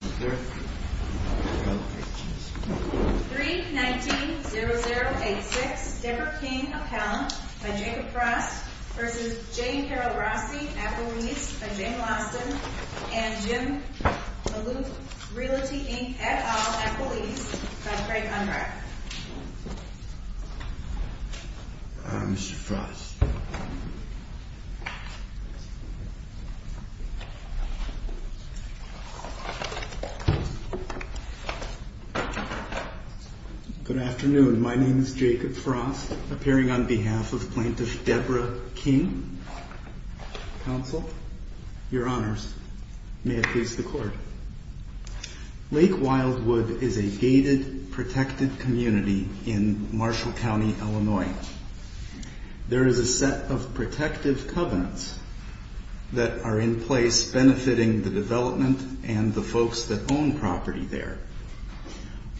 319-0086 Debra King Appellant by Jacob Frost v. Jane Carroll Rossi at police by Jane Lawson and Jim Malouf, Realty Inc. et al. at police by Craig Unbrek Mr. Frost Good afternoon. My name is Jacob Frost, appearing on behalf of Plaintiff Debra King, Counsel. Your Honors, may it please the Court. Lake Wildwood is a gated, protected community in Marshall County, Illinois. There is a set of protective covenants that are in place benefiting the development and the folks that own property there.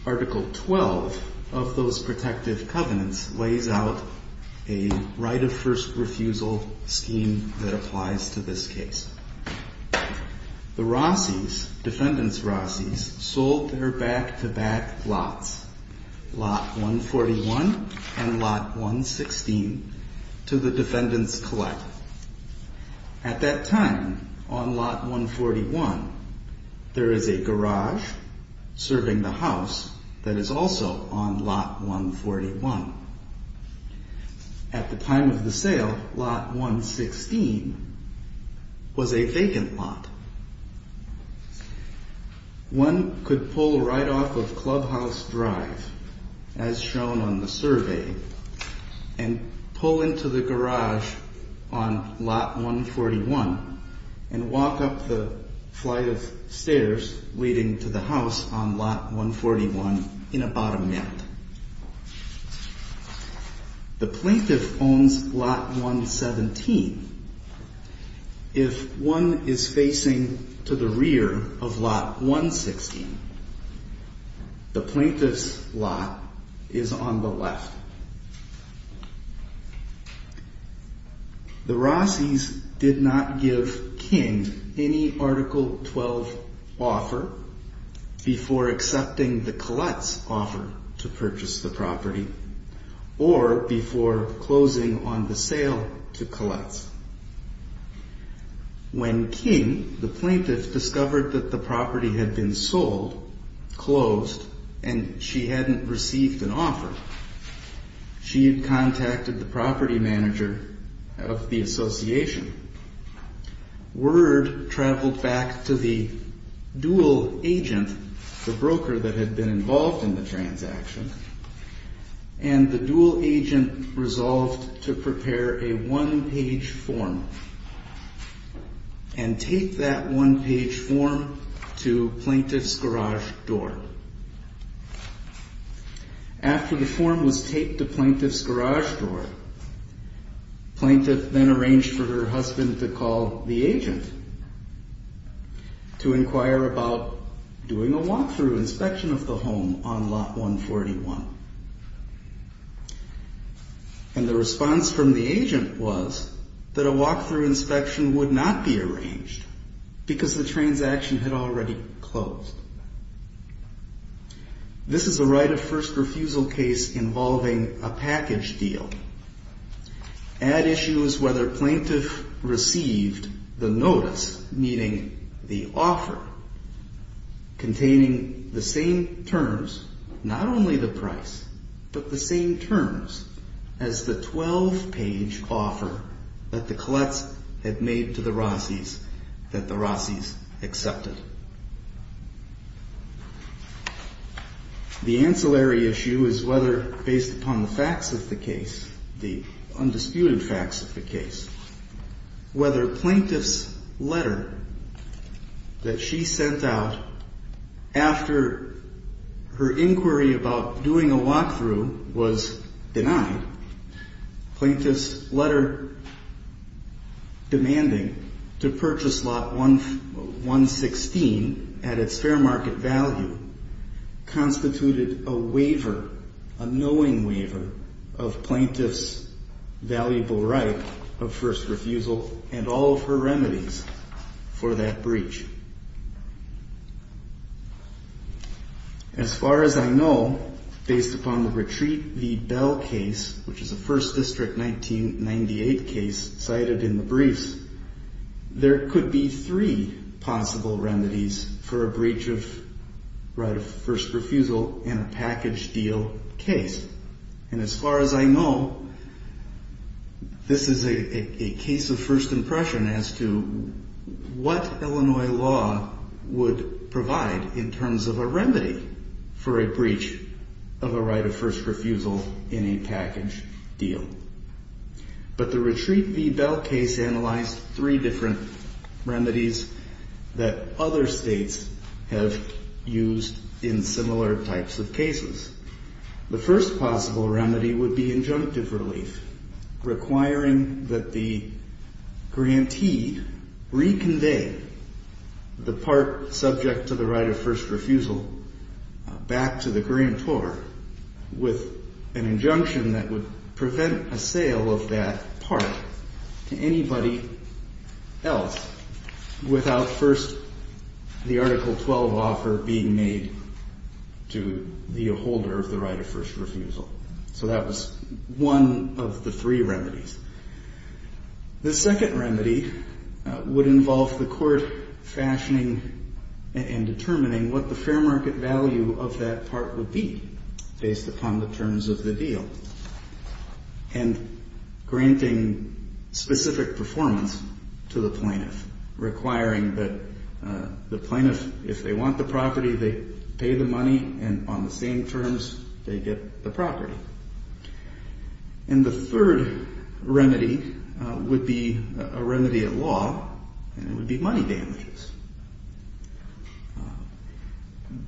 Article 12 of those protective covenants lays out a right of first refusal scheme that applies to this case. The Rossis, defendant's Rossis, sold their back-to-back lots, Lot 141 and Lot 116, to the defendant's collect. At that time, on Lot 141, there is a garage serving the house that is also on Lot 141. At the time of the sale, Lot 116 was a vacant lot. One could pull right off of Clubhouse Drive, as shown on the survey, and pull into the garage on Lot 141 and walk up the flight of stairs leading to the house on Lot 141 in a bottom net. The plaintiff owns Lot 117. If one is facing to the rear of Lot 116, the plaintiff's lot is on the left. The Rossis did not give King any Article 12 offer before accepting the collect's offer to purchase the property, or before closing on the sale to collect's. When King, the plaintiff, discovered that the property had been sold, closed, and she hadn't received an offer, she had contacted the property manager of the association. Word traveled back to the dual agent, the broker that had been involved in the transaction, and the dual agent resolved to prepare a one-page form and tape that one-page form to plaintiff's garage door. After the form was taped to plaintiff's garage door, plaintiff then arranged for her husband to call the agent to inquire about doing a walk-through inspection of the home on Lot 141. And the response from the agent was that a walk-through inspection would not be arranged, because the transaction had already closed. This is a right of first refusal case involving a package deal. Add issue is whether plaintiff received the notice, meaning the offer, containing the same terms, not only the price, but the same terms as the 12-page offer that the Collettes had made to the Rossis that the Rossis accepted. The ancillary issue is whether, based upon the facts of the case, the undisputed facts of the case, whether plaintiff's letter that she sent out after her inquiry about doing a walk-through was denied, plaintiff's letter demanding to purchase Lot 116 at its fair market value constituted a waiver, a knowing waiver, of plaintiff's valuable right of first refusal and all of her remedies for that breach. As far as I know, based upon the Retreat v. Bell case, which is a 1st District 1998 case cited in the briefs, there could be three possible remedies for a breach of right of first refusal in a package deal case. And as far as I know, this is a case of first impression as to what Illinois law would provide in terms of a remedy for a breach of a right of first refusal in a package deal. But the Retreat v. Bell case analyzed three different remedies that other states have used in similar types of cases. The first possible remedy would be injunctive relief, requiring that the grantee reconvey the part subject to the right of first refusal back to the grantor with an injunction that would prevent a sale of that part to anybody else without first the Article 12 offer being made to the holder of the right of first refusal. So that was one of the three remedies. The second remedy would involve the court fashioning and determining what the fair market value of that part would be based upon the terms of the deal and granting specific performance to the plaintiff, requiring that the plaintiff, if they want the property, they pay the money, and on the same terms, they get the property. And the third remedy would be a remedy at law, and it would be money damages.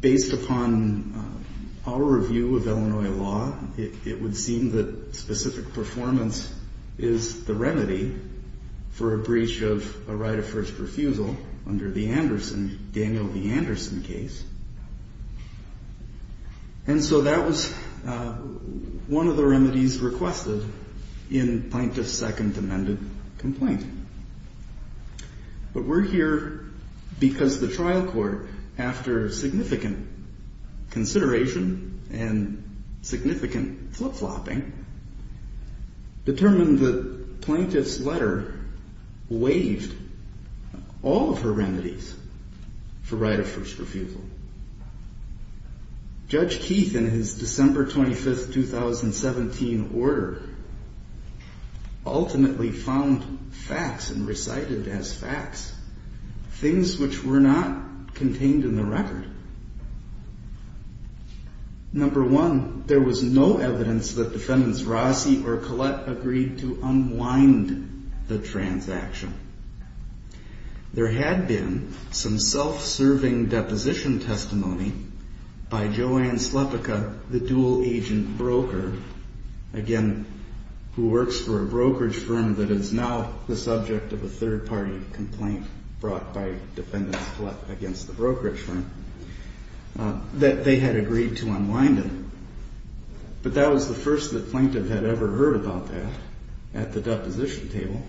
Based upon our review of Illinois law, it would seem that specific performance is the remedy for a breach of a right of first refusal under the Anderson, Daniel v. Anderson case. And so that was one of the remedies requested in plaintiff's second amended complaint. But we're here because the trial court, after significant consideration and significant flip-flopping, determined that plaintiff's letter waived all of her remedies for right of first refusal. Judge Keith, in his December 25th, 2017 order, ultimately found facts and recited as facts things which were not contained in the record. Number one, there was no evidence that defendants Rossi or Collette agreed to unwind the transaction. There had been some self-serving deposition testimony by Joanne Slepica, the dual agent broker, again, who works for a brokerage firm that is now the subject of a third-party complaint brought by defendants Collette against the brokerage firm, that they had agreed to unwind it. But that was the first that plaintiff had ever heard about that at the deposition table.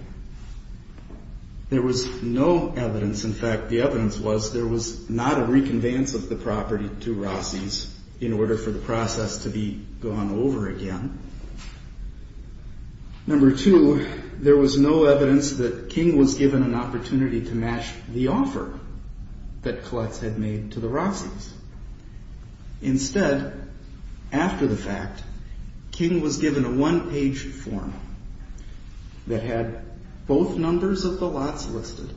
There was no evidence. In fact, the evidence was there was not a reconveyance of the property to Rossi's in order for the process to be gone over again. Number two, there was no evidence that King was given an opportunity to match the offer that Collette had made to the Rossi's. Instead, after the fact, King was given a one-page form that had both numbers of the lots listed,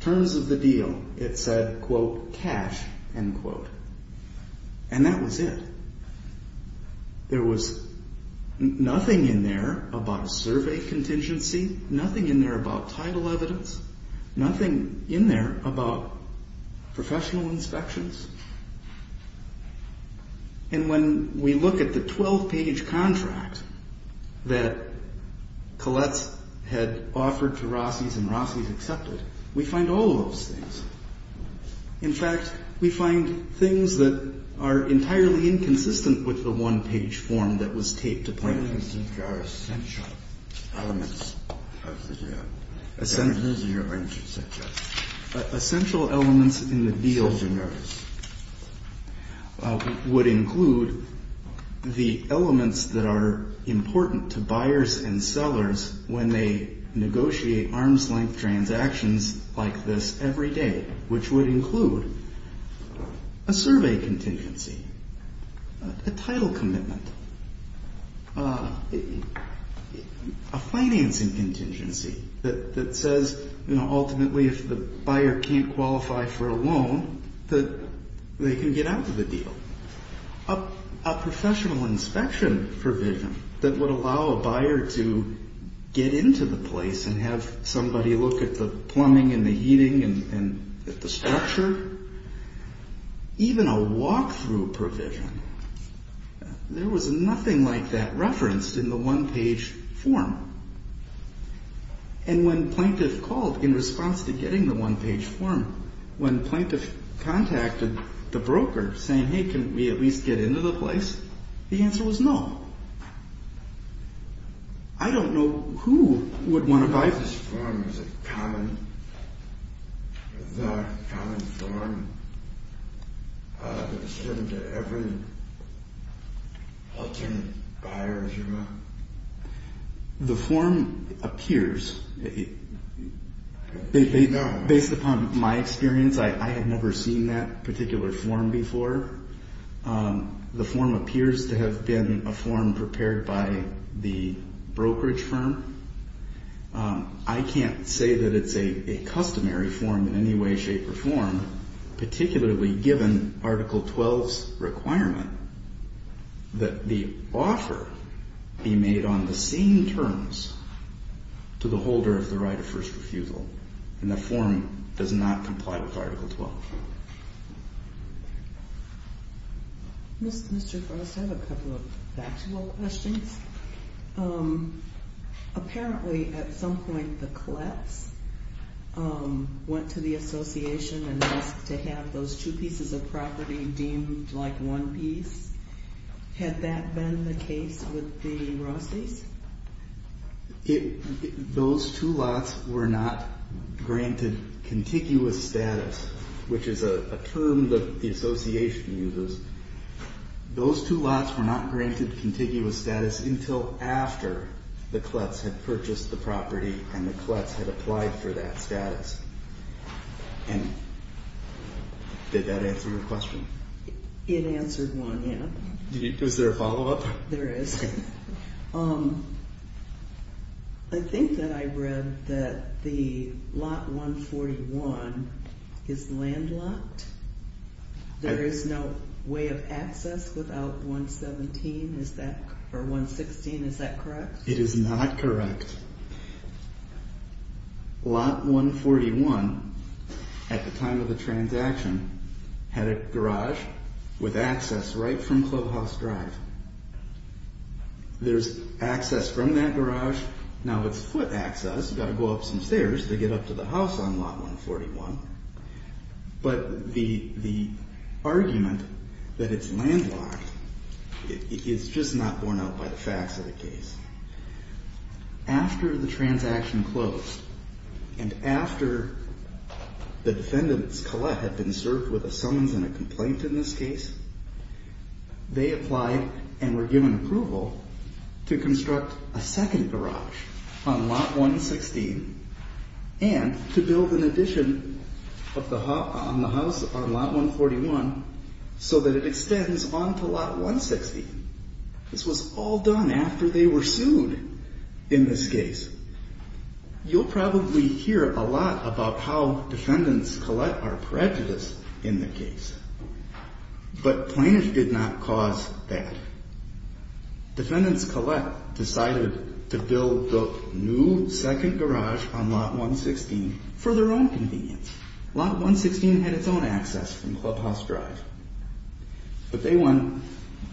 terms of the deal, it said, quote, cash, end quote. And that was it. There was nothing in there about a survey contingency, nothing in there about title evidence, nothing in there about professional inspections. And when we look at the 12-page contract that Collette had offered to Rossi's and Rossi's accepted, we find all of those things. In fact, we find things that are entirely inconsistent with the one-page form that was taped to plaintiffs. These are essential elements of the deal. Essential elements in the deal would include the elements that are important to buyers and sellers when they negotiate arm's-length transactions like this every day, which would include a survey contingency, a title commitment, a financing contingency that says, ultimately, if the buyer can't qualify for a loan, that they can get out of the deal, a professional inspection provision that would allow a buyer to get into the place and have somebody look at the plumbing and the heating and at the structure, even a walk-through provision. There was nothing like that referenced in the one-page form. And when plaintiff called in response to getting the one-page form, when plaintiff contacted the broker saying, hey, can we at least get into the place, the answer was no. I don't know who would want to buy this form. Is it common? Is that a common form that is given to every alternate buyer as your mom? The form appears. Based upon my experience, I had never seen that particular form before. The form appears to have been a form prepared by the brokerage firm. I can't say that it's a customary form in any way, shape, or form, particularly given Article 12's requirement that the offer be made on the same terms to the holder of the right of first refusal. And the form does not comply with Article 12. Mr. Frost, I have a couple of factual questions. Apparently, at some point, the Kletz went to the association and asked to have those two pieces of property deemed like one piece. Had that been the case with the Rossi's? Those two lots were not granted contiguous status, which is a term the association uses. Those two lots were not granted contiguous status until after the Kletz had purchased the property and the Kletz had applied for that status. And did that answer your question? It answered one, yeah. Was there a follow-up? There is. Okay. I think that I read that the lot 141 is landlocked. There is no way of access without 117, or 116. Is that correct? It is not correct. Lot 141, at the time of the transaction, had a garage with access right from Clubhouse Drive. There's access from that garage. Now, it's foot access. You've got to go up some stairs to get up to the house on lot 141. But the argument that it's landlocked is just not borne out by the facts of the case. After the transaction closed, and after the defendants, Kletz, had been served with a summons and a complaint in this case, they applied and were given approval to construct a second garage on lot 116 and to build an addition on the house on lot 141 so that it extends on to lot 116. This was all done after they were sued in this case. You'll probably hear a lot about how defendants, Kletz, are prejudiced in the case. But Plaintiff did not cause that. Defendants, Kletz, decided to build the new second garage on lot 116 for their own convenience. Lot 116 had its own access from Clubhouse Drive. But they won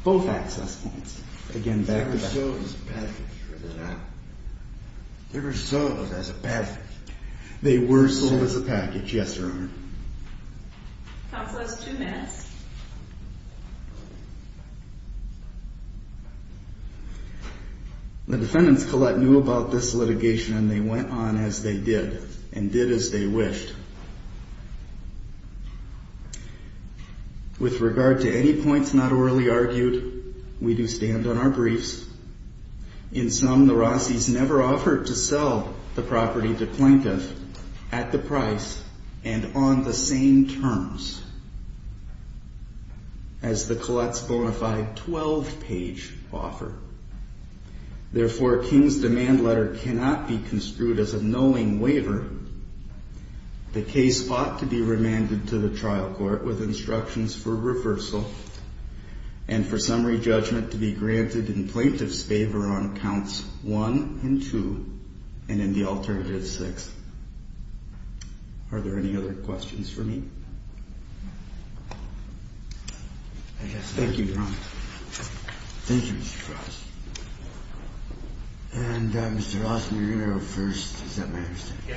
both access points, again, back-to-back. They were sold as a package, or did they not? They were sold as a package. They were sold as a package, yes, Your Honor. Counsel has two minutes. The defendants, Kletz, knew about this litigation, and they went on as they did, and did as they wished. With regard to any points not orally argued, we do stand on our briefs. In sum, the Rossis never offered to sell the property to Plaintiff at the price and on the same terms as the Kletz bonafide 12-page offer. Therefore, King's demand letter cannot be construed as a knowing waiver. The case fought to be remanded to the trial court with instructions for reversal and for summary judgment to be granted in Plaintiff's favor on counts one and two and in the alternative six. Are there any other questions for me? Thank you, Your Honor. Thank you, Mr. Ross. And, Mr. Lawson, you're going to go first. Is that my understanding?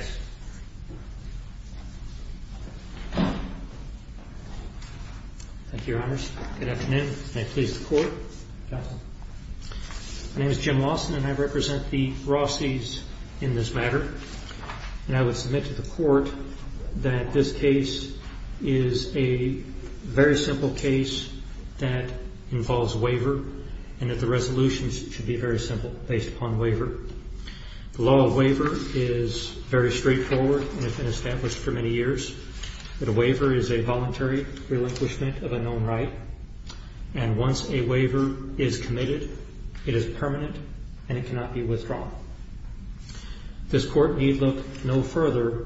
Thank you, Your Honors. Good afternoon. May it please the Court. Counsel. My name is Jim Lawson, and I represent the Rossis in this matter. And I would submit to the Court that this case is a very simple case that involves waiver and that the resolutions should be very simple based upon waiver. The law of waiver is very straightforward and has been established for many years, that a waiver is a voluntary relinquishment of a known right, and once a waiver is committed, it is permanent and it cannot be withdrawn. This Court need look no further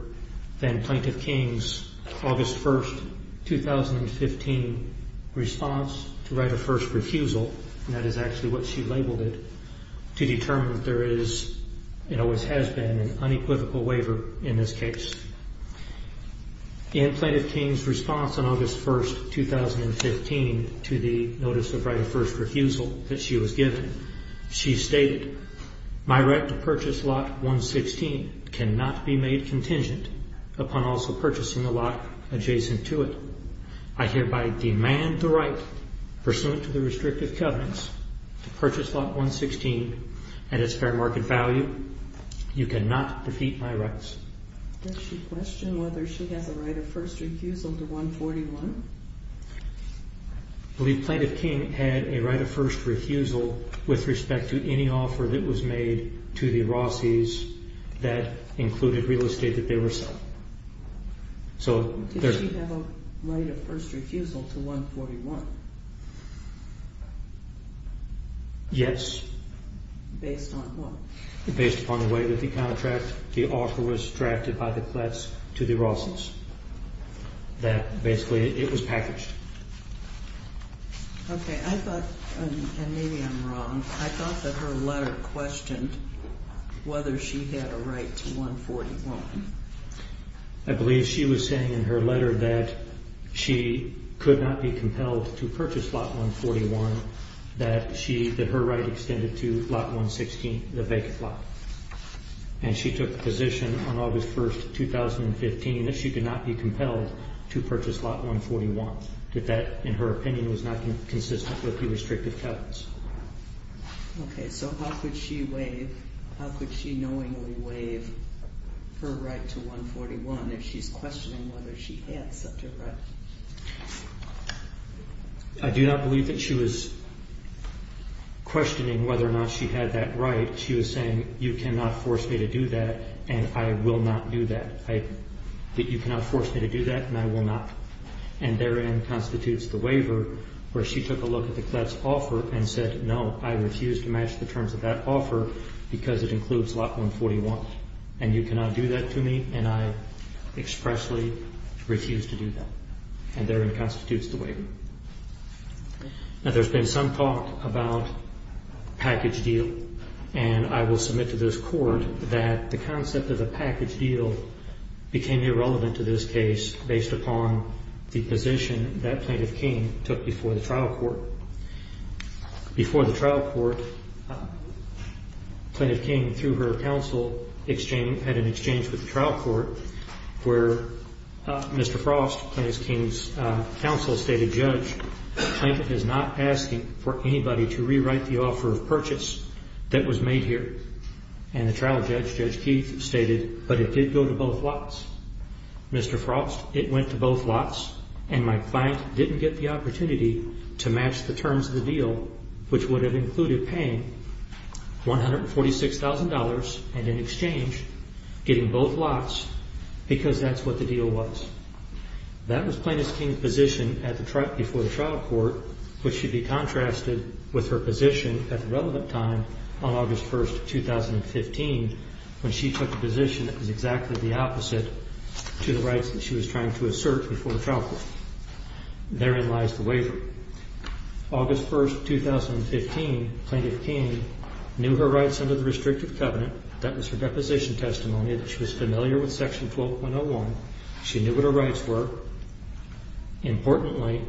than Plaintiff King's August 1, 2015, response to right of first refusal, and that is actually what she labeled it, to determine if there is and always has been an unequivocal waiver in this case. In Plaintiff King's response on August 1, 2015, to the notice of right of first refusal that she was given, she stated, my right to purchase lot 116 cannot be made contingent upon also purchasing a lot adjacent to it. I hereby demand the right, pursuant to the restrictive covenants, to purchase lot 116 at its fair market value. You cannot defeat my rights. Does she question whether she has a right of first refusal to 141? I believe Plaintiff King had a right of first refusal with respect to any offer that was made to the Rossis that included real estate that they were selling. Did she have a right of first refusal to 141? Yes. Based on what? Based upon the way that the contract, the offer was drafted by the Kletz to the Rossis, that basically it was packaged. Okay, I thought, and maybe I'm wrong, I thought that her letter questioned whether she had a right to 141. I believe she was saying in her letter that she could not be compelled to purchase lot 141, that her right extended to lot 116, the vacant lot. And she took the position on August 1, 2015, that she could not be compelled to purchase lot 141, that that, in her opinion, was not consistent with the restrictive covenants. Okay, so how could she waive, how could she knowingly waive her right to 141 if she's questioning whether she had such a right? I do not believe that she was questioning whether or not she had that right. She was saying, you cannot force me to do that, and I will not do that. You cannot force me to do that, and I will not. And therein constitutes the waiver where she took a look at the Kletz offer and said, no, I refuse to match the terms of that offer because it includes lot 141. And you cannot do that to me, and I expressly refuse to do that. And therein constitutes the waiver. Now, there's been some talk about package deal, and I will submit to this Court that the concept of the package deal became irrelevant to this case based upon the position that Plaintiff King took before the trial court. Before the trial court, Plaintiff King, through her counsel, had an exchange with the trial court where Mr. Frost, Plaintiff King's counsel, stated, Judge, the plaintiff is not asking for anybody to rewrite the offer of purchase that was made here. And the trial judge, Judge Keith, stated, but it did go to both lots. Mr. Frost, it went to both lots, and my client didn't get the opportunity to match the terms of the deal, which would have included paying $146,000 and in exchange getting both lots, because that's what the deal was. That was Plaintiff King's position before the trial court, which should be contrasted with her position at the relevant time on August 1, 2015, when she took a position that was exactly the opposite to the rights that she was trying to assert before the trial court. Therein lies the waiver. August 1, 2015, Plaintiff King knew her rights under the restrictive covenant. That was her deposition testimony that she was familiar with Section 12.101. She knew what her rights were. Importantly,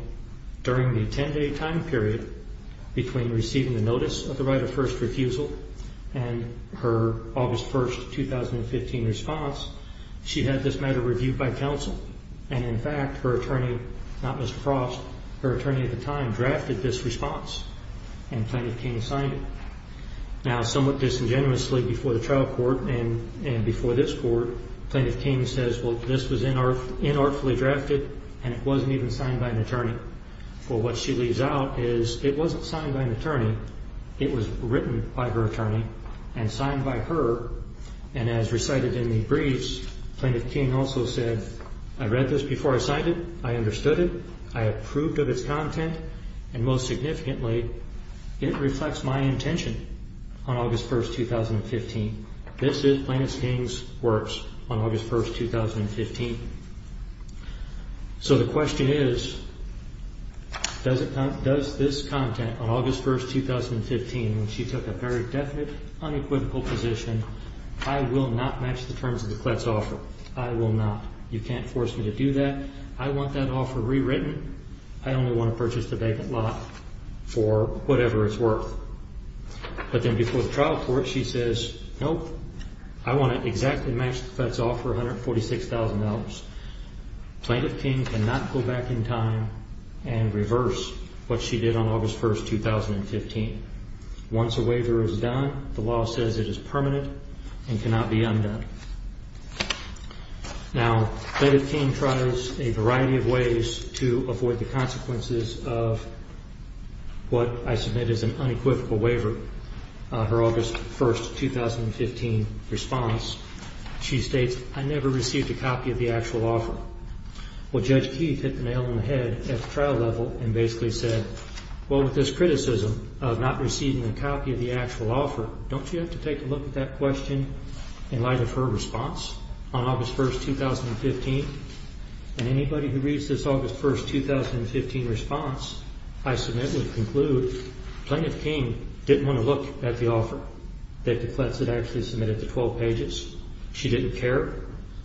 during the 10-day time period between receiving the notice of the right of first refusal and her August 1, 2015 response, she had this matter reviewed by counsel, and in fact her attorney, not Mr. Frost, her attorney at the time drafted this response, and Plaintiff King signed it. Now, somewhat disingenuously before the trial court and before this court, Plaintiff King says, well, this was inartfully drafted, and it wasn't even signed by an attorney. Well, what she leaves out is it wasn't signed by an attorney. It was written by her attorney and signed by her, and as recited in the briefs, Plaintiff King also said, I read this before I signed it. I understood it. I approved of its content, and most significantly, it reflects my intention on August 1, 2015. This is Plaintiff King's works on August 1, 2015. So the question is, does this content on August 1, 2015, when she took a very definite, unequivocal position, I will not match the terms of the Kletz offer. I will not. You can't force me to do that. I want that offer rewritten. I only want to purchase the vacant lot for whatever it's worth. But then before the trial court, she says, nope, I want to exactly match the Kletz offer, $146,000. Plaintiff King cannot go back in time and reverse what she did on August 1, 2015. Once a waiver is done, the law says it is permanent and cannot be undone. Now, Plaintiff King tries a variety of ways to avoid the consequences of what I submit as an unequivocal waiver. Her August 1, 2015 response, she states, I never received a copy of the actual offer. Well, Judge Keith hit the nail on the head at the trial level and basically said, well, with this criticism of not receiving a copy of the actual offer, don't you have to take a look at that question in light of her response on August 1, 2015? And anybody who reads this August 1, 2015 response I submit would conclude Plaintiff King didn't want to look at the offer that the Kletz had actually submitted, the 12 pages. She didn't care.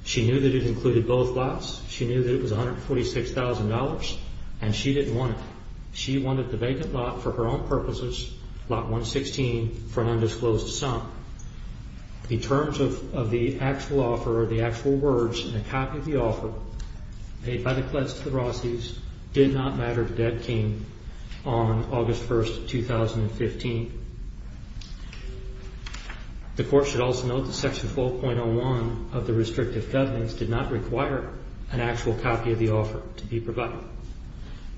She knew that it included both lots. She knew that it was $146,000, and she didn't want it. She wanted the vacant lot for her own purposes, lot 116, for an undisclosed sum. In terms of the actual offer or the actual words in a copy of the offer paid by the Kletz to the Rossi's, did not matter to Deb King on August 1, 2015. The Court should also note that Section 4.01 of the Restrictive Guidelines did not require an actual copy of the offer to be provided.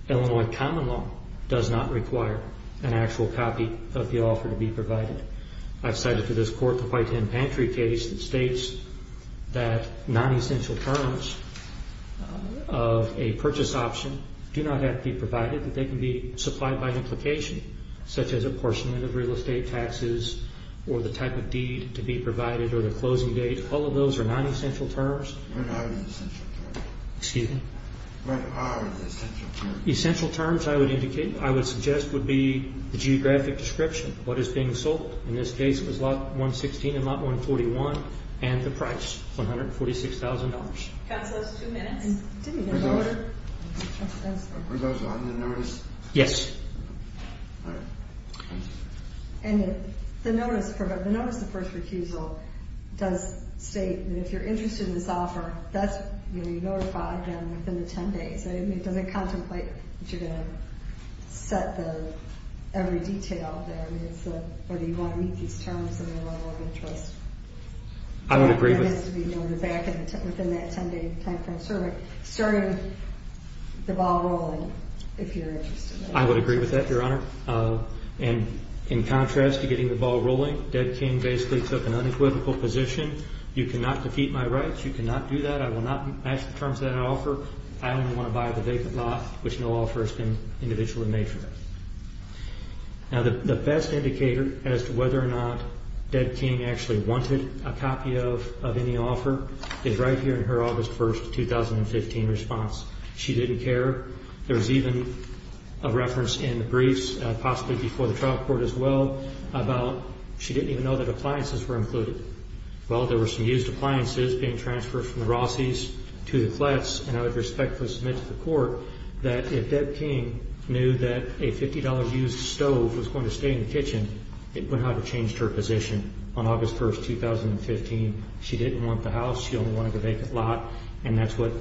Illinois common law does not require an actual copy of the offer to be provided. I've cited to this Court the White Hen Pantry case that states that non-essential terms of a purchase option do not have to be provided, that they can be supplied by implication, such as apportionment of real estate taxes or the type of deed to be provided or the closing date. All of those are non-essential terms. What are the essential terms? Essential terms, I would suggest, would be the geographic description, what is being sold. In this case, it was lot 116 and lot 141, and the price, $146,000. Counsel, that's two minutes. Were those on the notice? Yes. All right. And the notice, the notice of first refusal, does state that if you're interested in this offer, that's, you know, you notify them within the 10 days. It doesn't contemplate that you're going to set every detail there. I mean, it's the, whether you want to meet these terms and their level of interest. I would agree with that. That has to be noted back within that 10-day timeframe. So it started the ball rolling, if you're interested in it. I would agree with that, Your Honor. And in contrast to getting the ball rolling, Deb King basically took an unequivocal position. You cannot defeat my rights. You cannot do that. I will not match the terms that I offer. I only want to buy the vacant lot, which no offer has been individually made for that. Now, the best indicator as to whether or not Deb King actually wanted a copy of any offer is right here in her August 1, 2015 response. She didn't care. There's even a reference in the briefs, possibly before the trial court as well, about she didn't even know that appliances were included. Well, there were some used appliances being transferred from the Rossies to the flats, and I would respectfully submit to the court that if Deb King knew that a $50 used stove was going to stay in the kitchen, it would have changed her position on August 1, 2015. She didn't want the house. She only wanted the vacant lot. And that's what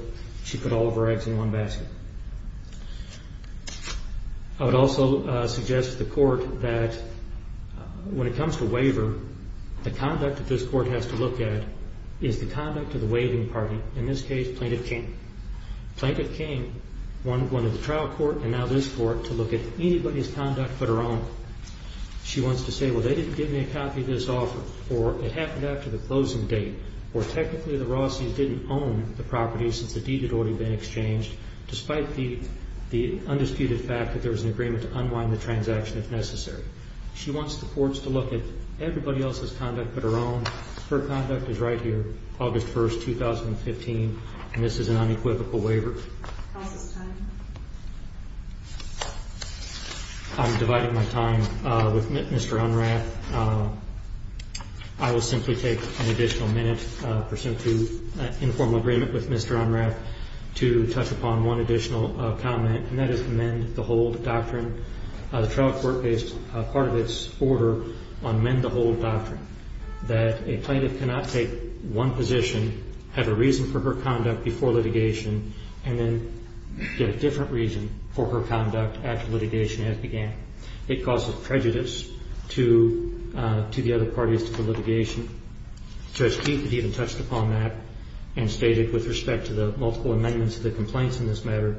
she put all of her eggs in one basket. I would also suggest to the court that when it comes to waiver, the conduct that this court has to look at is the conduct of the waiving party, in this case Plaintiff King. Plaintiff King wanted the trial court and now this court to look at anybody's conduct but her own. She wants to say, well, they didn't give me a copy of this offer, or it happened after the closing date, or technically the Rossies didn't own the property since the deed had already been exchanged, despite the undisputed fact that there was an agreement to unwind the transaction if necessary. She wants the courts to look at everybody else's conduct but her own. Her conduct is right here, August 1, 2015, and this is an unequivocal waiver. How's this time? I'm dividing my time with Mr. Unrath. I will simply take an additional minute, pursuant to informal agreement with Mr. Unrath, to touch upon one additional comment, and that is the mend the hold doctrine. The trial court based part of its order on mend the hold doctrine, that a plaintiff cannot take one position, have a reason for her conduct before litigation, and then get a different reason for her conduct after litigation as began. It causes prejudice to the other parties to the litigation. Judge Keith had even touched upon that and stated with respect to the multiple amendments of the complaints in this matter,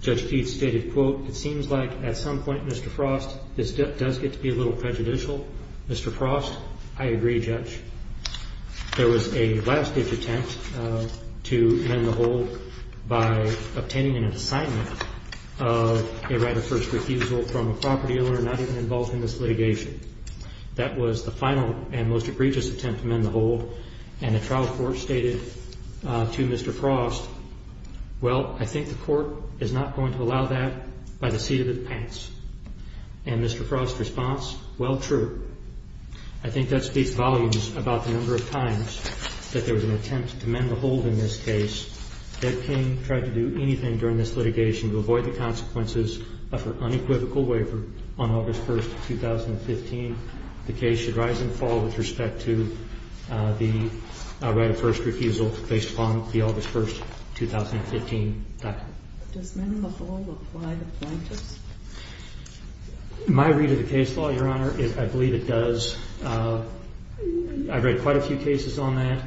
Judge Keith stated, quote, It seems like at some point, Mr. Frost, this does get to be a little prejudicial. Mr. Frost, I agree, Judge. There was a last-ditch attempt to mend the hold by obtaining an assignment of a right of first refusal from a property owner not even involved in this litigation. That was the final and most egregious attempt to mend the hold, and the trial court stated to Mr. Frost, Well, I think the court is not going to allow that by the seat of its pants. And Mr. Frost's response, well, true. I think that speaks volumes about the number of times that there was an attempt to mend the hold in this case. Ed King tried to do anything during this litigation to avoid the consequences, but for unequivocal waiver on August 1, 2015, the case should rise and fall with respect to the right of first refusal based upon the August 1, 2015, document. Does mend the hold apply to plaintiffs? My read of the case law, Your Honor, I believe it does. I've read quite a few cases on that,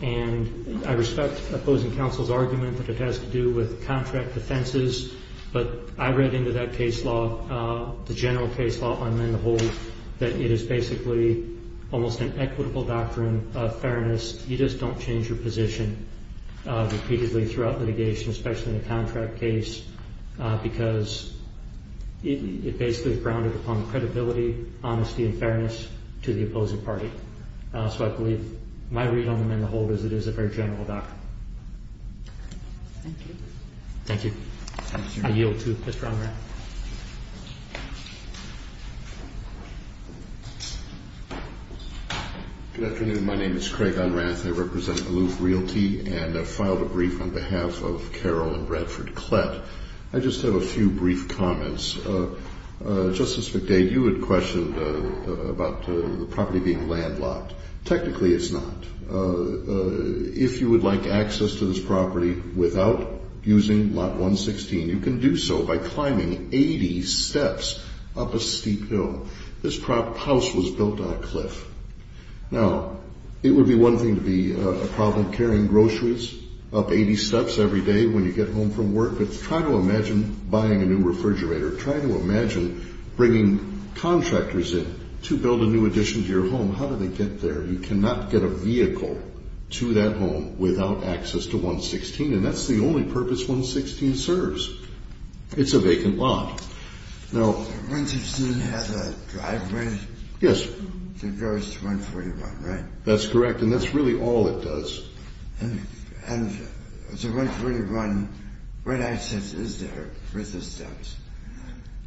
and I respect opposing counsel's argument that it has to do with contract defenses, but I read into that case law, the general case law on mend the hold, that it is basically almost an equitable doctrine of fairness. You just don't change your position repeatedly throughout litigation, especially in a contract case, because it basically is grounded upon credibility, honesty, and fairness to the opposing party. So I believe my read on the mend the hold is it is a very general doctrine. Thank you. Thank you. I yield to Mr. Unrath. Good afternoon. My name is Craig Unrath. I represent Aloof Realty and have filed a brief on behalf of Carol and Bradford Klett. I just have a few brief comments. Justice McDade, you had questioned about the property being landlocked. Technically, it's not. If you would like access to this property without using lot 116, you can do so by climbing 80 steps up a steep hill. This house was built on a cliff. Now, it would be one thing to be a problem carrying groceries up 80 steps every day when you get home from work, but try to imagine buying a new refrigerator. Try to imagine bringing contractors in to build a new addition to your home. How do they get there? You cannot get a vehicle to that home without access to 116, and that's the only purpose 116 serves. It's a vacant lot. 116 has a driveway that goes to 141, right? That's correct, and that's really all it does. And to 141, what access is there with the steps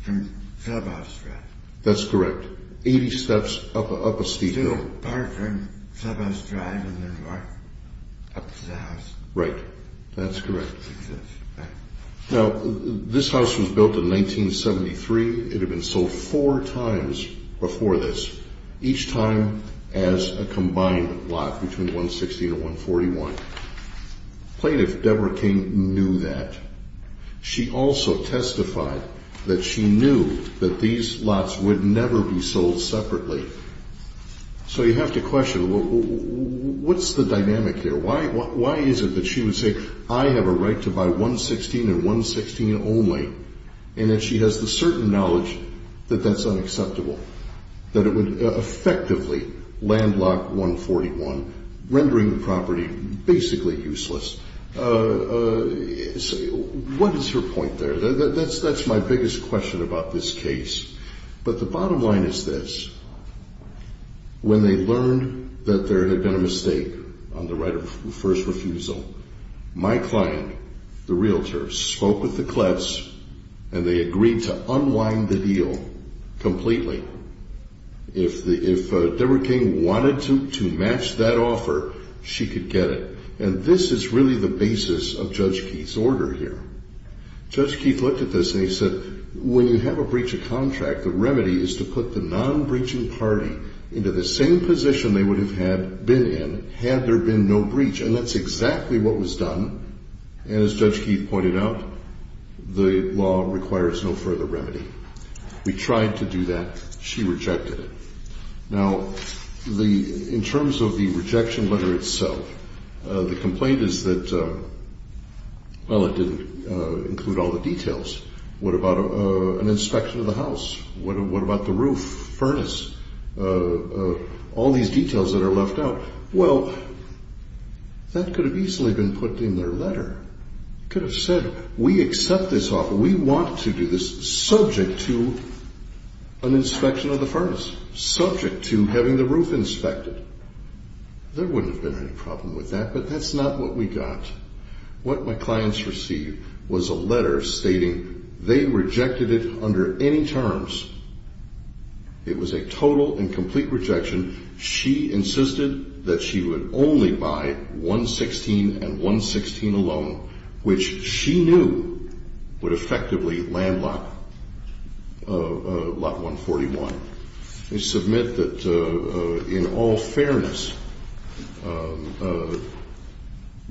from Clubhouse Drive? That's correct. 80 steps up a steep hill. To Parker and Clubhouse Drive and then walk up to the house. Right. That's correct. Now, this house was built in 1973. It had been sold four times before this, each time as a combined lot between 116 and 141. Plaintiff Deborah King knew that. She also testified that she knew that these lots would never be sold separately. So you have to question, what's the dynamic here? Why is it that she would say, I have a right to buy 116 and 116 only, and that she has the certain knowledge that that's unacceptable, that it would effectively landlock 141, rendering the property basically useless? What is her point there? That's my biggest question about this case. But the bottom line is this. When they learned that there had been a mistake on the right of first refusal, my client, the realtor, spoke with the clets, and they agreed to unwind the deal completely. If Deborah King wanted to match that offer, she could get it. And this is really the basis of Judge Keith's order here. Judge Keith looked at this, and he said, When you have a breach of contract, the remedy is to put the non-breaching party into the same position they would have been in had there been no breach. And that's exactly what was done. And as Judge Keith pointed out, the law requires no further remedy. We tried to do that. She rejected it. Now, in terms of the rejection letter itself, the complaint is that, well, it didn't include all the details. What about an inspection of the house? What about the roof, furnace, all these details that are left out? Well, that could have easily been put in their letter. It could have said, We accept this offer. We want to do this subject to an inspection of the furnace, subject to having the roof inspected. There wouldn't have been any problem with that, but that's not what we got. What my clients received was a letter stating they rejected it under any terms. It was a total and complete rejection. She insisted that she would only buy 116 and 116 alone, which she knew would effectively land Lot 141. They submit that, in all fairness,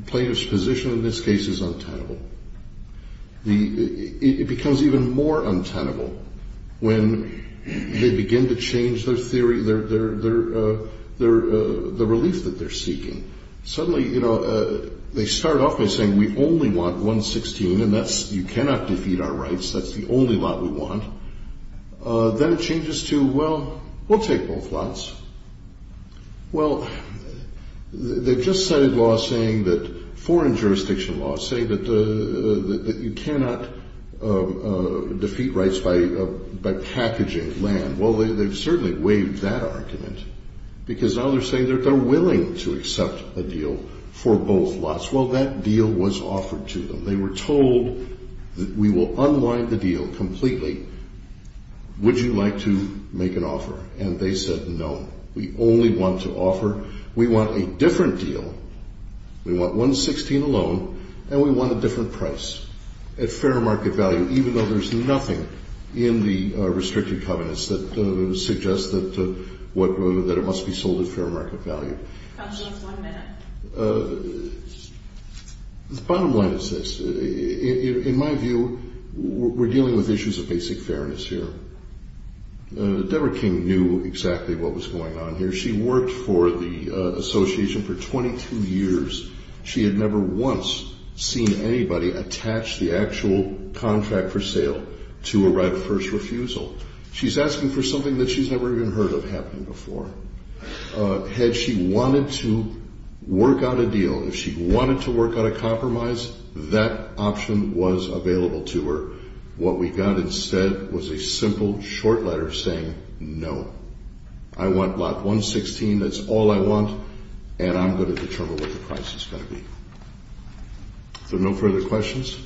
plaintiff's position in this case is untenable. It becomes even more untenable when they begin to change their theory, the relief that they're seeking. Suddenly, you know, they start off by saying, We only want 116, and you cannot defeat our rights. That's the only lot we want. Then it changes to, Well, we'll take both lots. Well, they've just cited law saying that foreign jurisdiction laws say that you cannot defeat rights by packaging land. Well, they've certainly waived that argument, because others say that they're willing to accept a deal for both lots. Well, that deal was offered to them. They were told that we will unwind the deal completely. Would you like to make an offer? And they said no. We only want to offer. We want a different deal. We want 116 alone, and we want a different price at fair market value, even though there's nothing in the restricted covenants that suggests that it must be sold at fair market value. Counsel, one minute. The bottom line is this. In my view, we're dealing with issues of basic fairness here. Deborah King knew exactly what was going on here. She worked for the association for 22 years. She had never once seen anybody attach the actual contract for sale to a right of first refusal. She's asking for something that she's never even heard of happening before. Had she wanted to work out a deal, if she wanted to work out a compromise, that option was available to her. What we got instead was a simple short letter saying no. I want lot 116. That's all I want, and I'm going to determine what the price is going to be. Is there no further questions?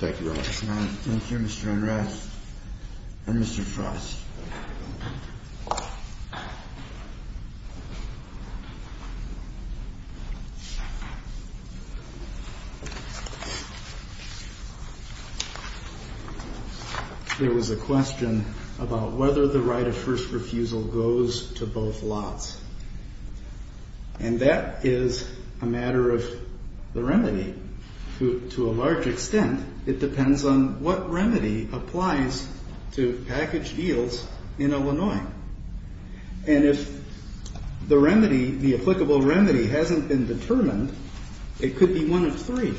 Thank you, Your Honor. Thank you, Mr. Enright and Mr. Frost. There was a question about whether the right of first refusal goes to both lots. And that is a matter of the remedy. To a large extent, it depends on what remedy applies to package deals in Illinois. And if the remedy, the applicable remedy hasn't been determined, it could be one of three.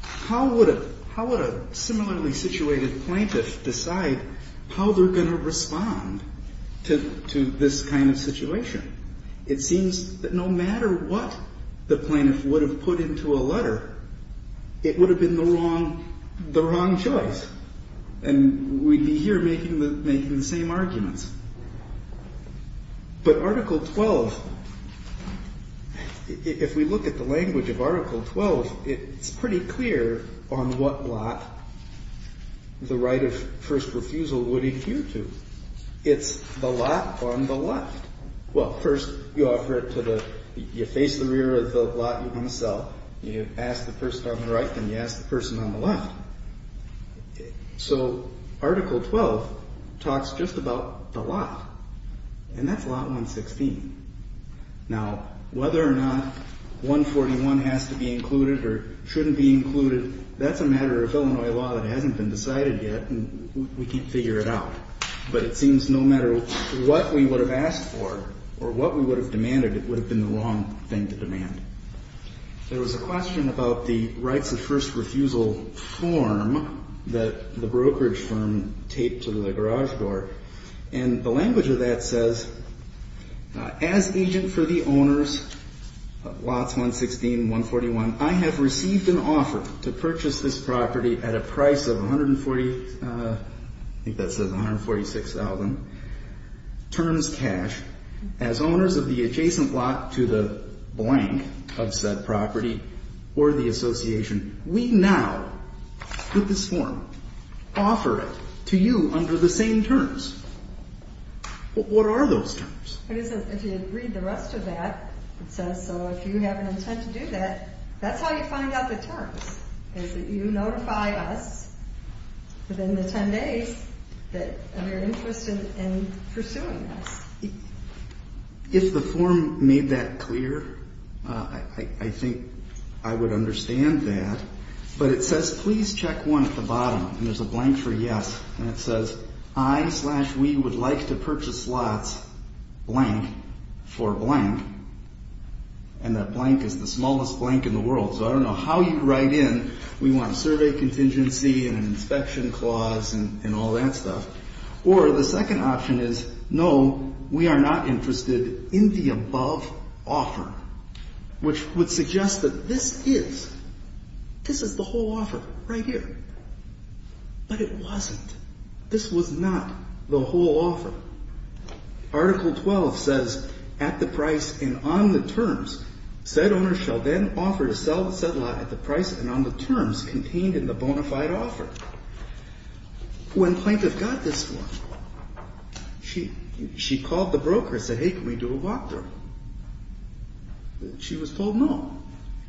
How would a similarly situated plaintiff decide how they're going to respond to this kind of situation? It seems that no matter what the plaintiff would have put into a letter, it would have been the wrong choice. And we'd be here making the same arguments. But Article 12, if we look at the language of Article 12, it's pretty clear on what lot the right of first refusal would adhere to. It's the lot on the left. Well, first you face the rear of the lot you want to sell. You ask the person on the right, then you ask the person on the left. So Article 12 talks just about the lot. And that's lot 116. Now, whether or not 141 has to be included or shouldn't be included, that's a matter of Illinois law that hasn't been decided yet. And we can't figure it out. But it seems no matter what we would have asked for or what we would have demanded, it would have been the wrong thing to demand. There was a question about the rights of first refusal form that the brokerage firm taped to the garage door. And the language of that says, as agent for the owners of lots 116 and 141, I have received an offer to purchase this property at a price of $146,000, terms cash, as owners of the adjacent lot to the blank of said property or the association. We now with this form offer it to you under the same terms. What are those terms? If you read the rest of that, it says, so if you have an intent to do that, that's how you find out the terms, is that you notify us within the 10 days that you're interested in pursuing this. If the form made that clear, I think I would understand that. But it says, please check one at the bottom. And there's a blank for yes. And it says, I slash we would like to purchase lots blank for blank. And that blank is the smallest blank in the world. So I don't know how you write in. We want a survey contingency and an inspection clause and all that stuff. Or the second option is, no, we are not interested in the above offer, which would suggest that this is, this is the whole offer right here. But it wasn't. This was not the whole offer. Article 12 says at the price and on the terms, said owner shall then offer to sell said lot at the price and on the terms contained in the bona fide offer. When plaintiff got this form, she called the broker and said, hey, can we do a walkthrough? She was told no.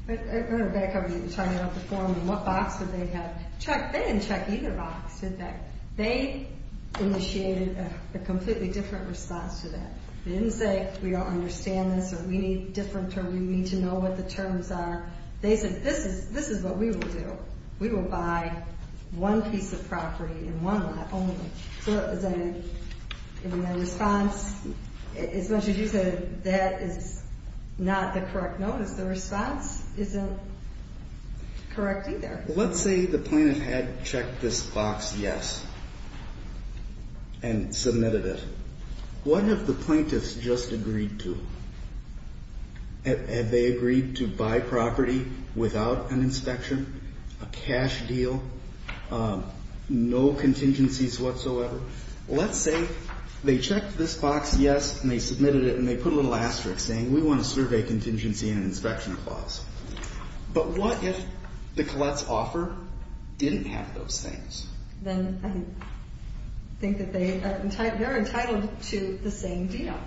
I remember back when you were talking about the form and what box did they have checked. They didn't check either box, did they? They initiated a completely different response to that. They didn't say, we don't understand this or we need a different term. We need to know what the terms are. They said, this is what we will do. We will buy one piece of property in one lot only. So that was a response. As much as you said that is not the correct notice, the response isn't correct either. Let's say the plaintiff had checked this box, yes, and submitted it. What have the plaintiffs just agreed to? Had they agreed to buy property without an inspection, a cash deal, no contingencies whatsoever? Let's say they checked this box, yes, and they submitted it and they put a little asterisk saying we want to survey contingency and inspection clause. But what if the Collette's offer didn't have those things? Then I think that they are entitled to the same deal.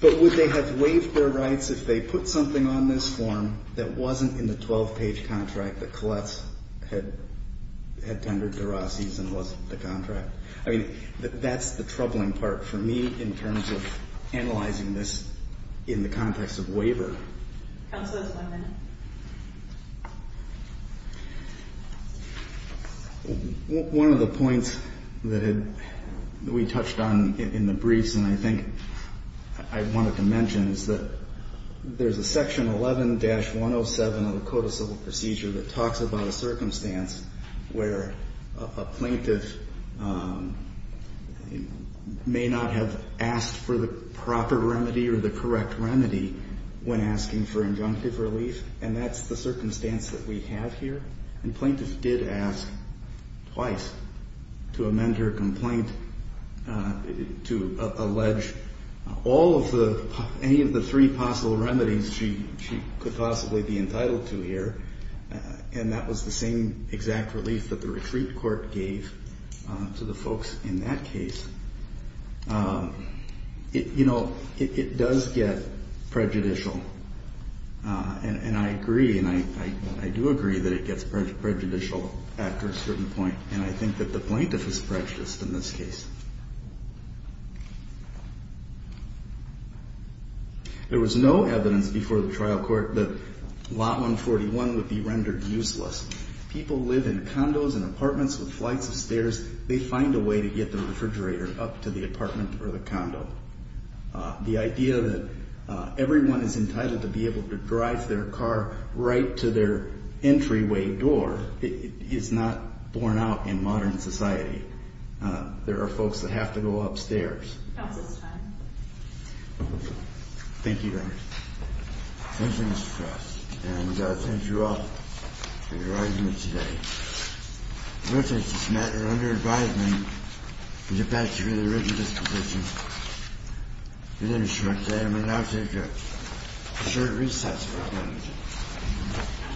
But would they have waived their rights if they put something on this form that wasn't in the 12-page contract that Collette's had tendered to Rossi's and wasn't the contract? I mean, that's the troubling part for me in terms of analyzing this in the context of waiver. Counselors, one minute. One of the points that we touched on in the briefs and I think I wanted to mention is that there's a section 11-107 of the Code of Civil Procedure that talks about a circumstance where a plaintiff may not have asked for the proper remedy or the correct remedy when asking for injunctive relief. And that's the circumstance that we have here. And plaintiff did ask twice to amend her complaint to allege any of the three possible remedies she could possibly be entitled to here. And that was the same exact relief that the retreat court gave to the folks in that case. You know, it does get prejudicial. And I agree and I do agree that it gets prejudicial after a certain point. And I think that the plaintiff is prejudiced in this case. There was no evidence before the trial court that Lot 141 would be rendered useless. People live in condos and apartments with flights of stairs. They find a way to get the refrigerator up to the apartment or the condo. The idea that everyone is entitled to be able to drive their car right to their entryway door is not borne out in modern society. There are folks that have to go upstairs. Counsel's time. Thank you very much. Thank you, Mr. Frost. And thank you all for your argument today. I'm going to take this matter under advisement and get back to the original disposition. I'm going to now take a short recess for a moment.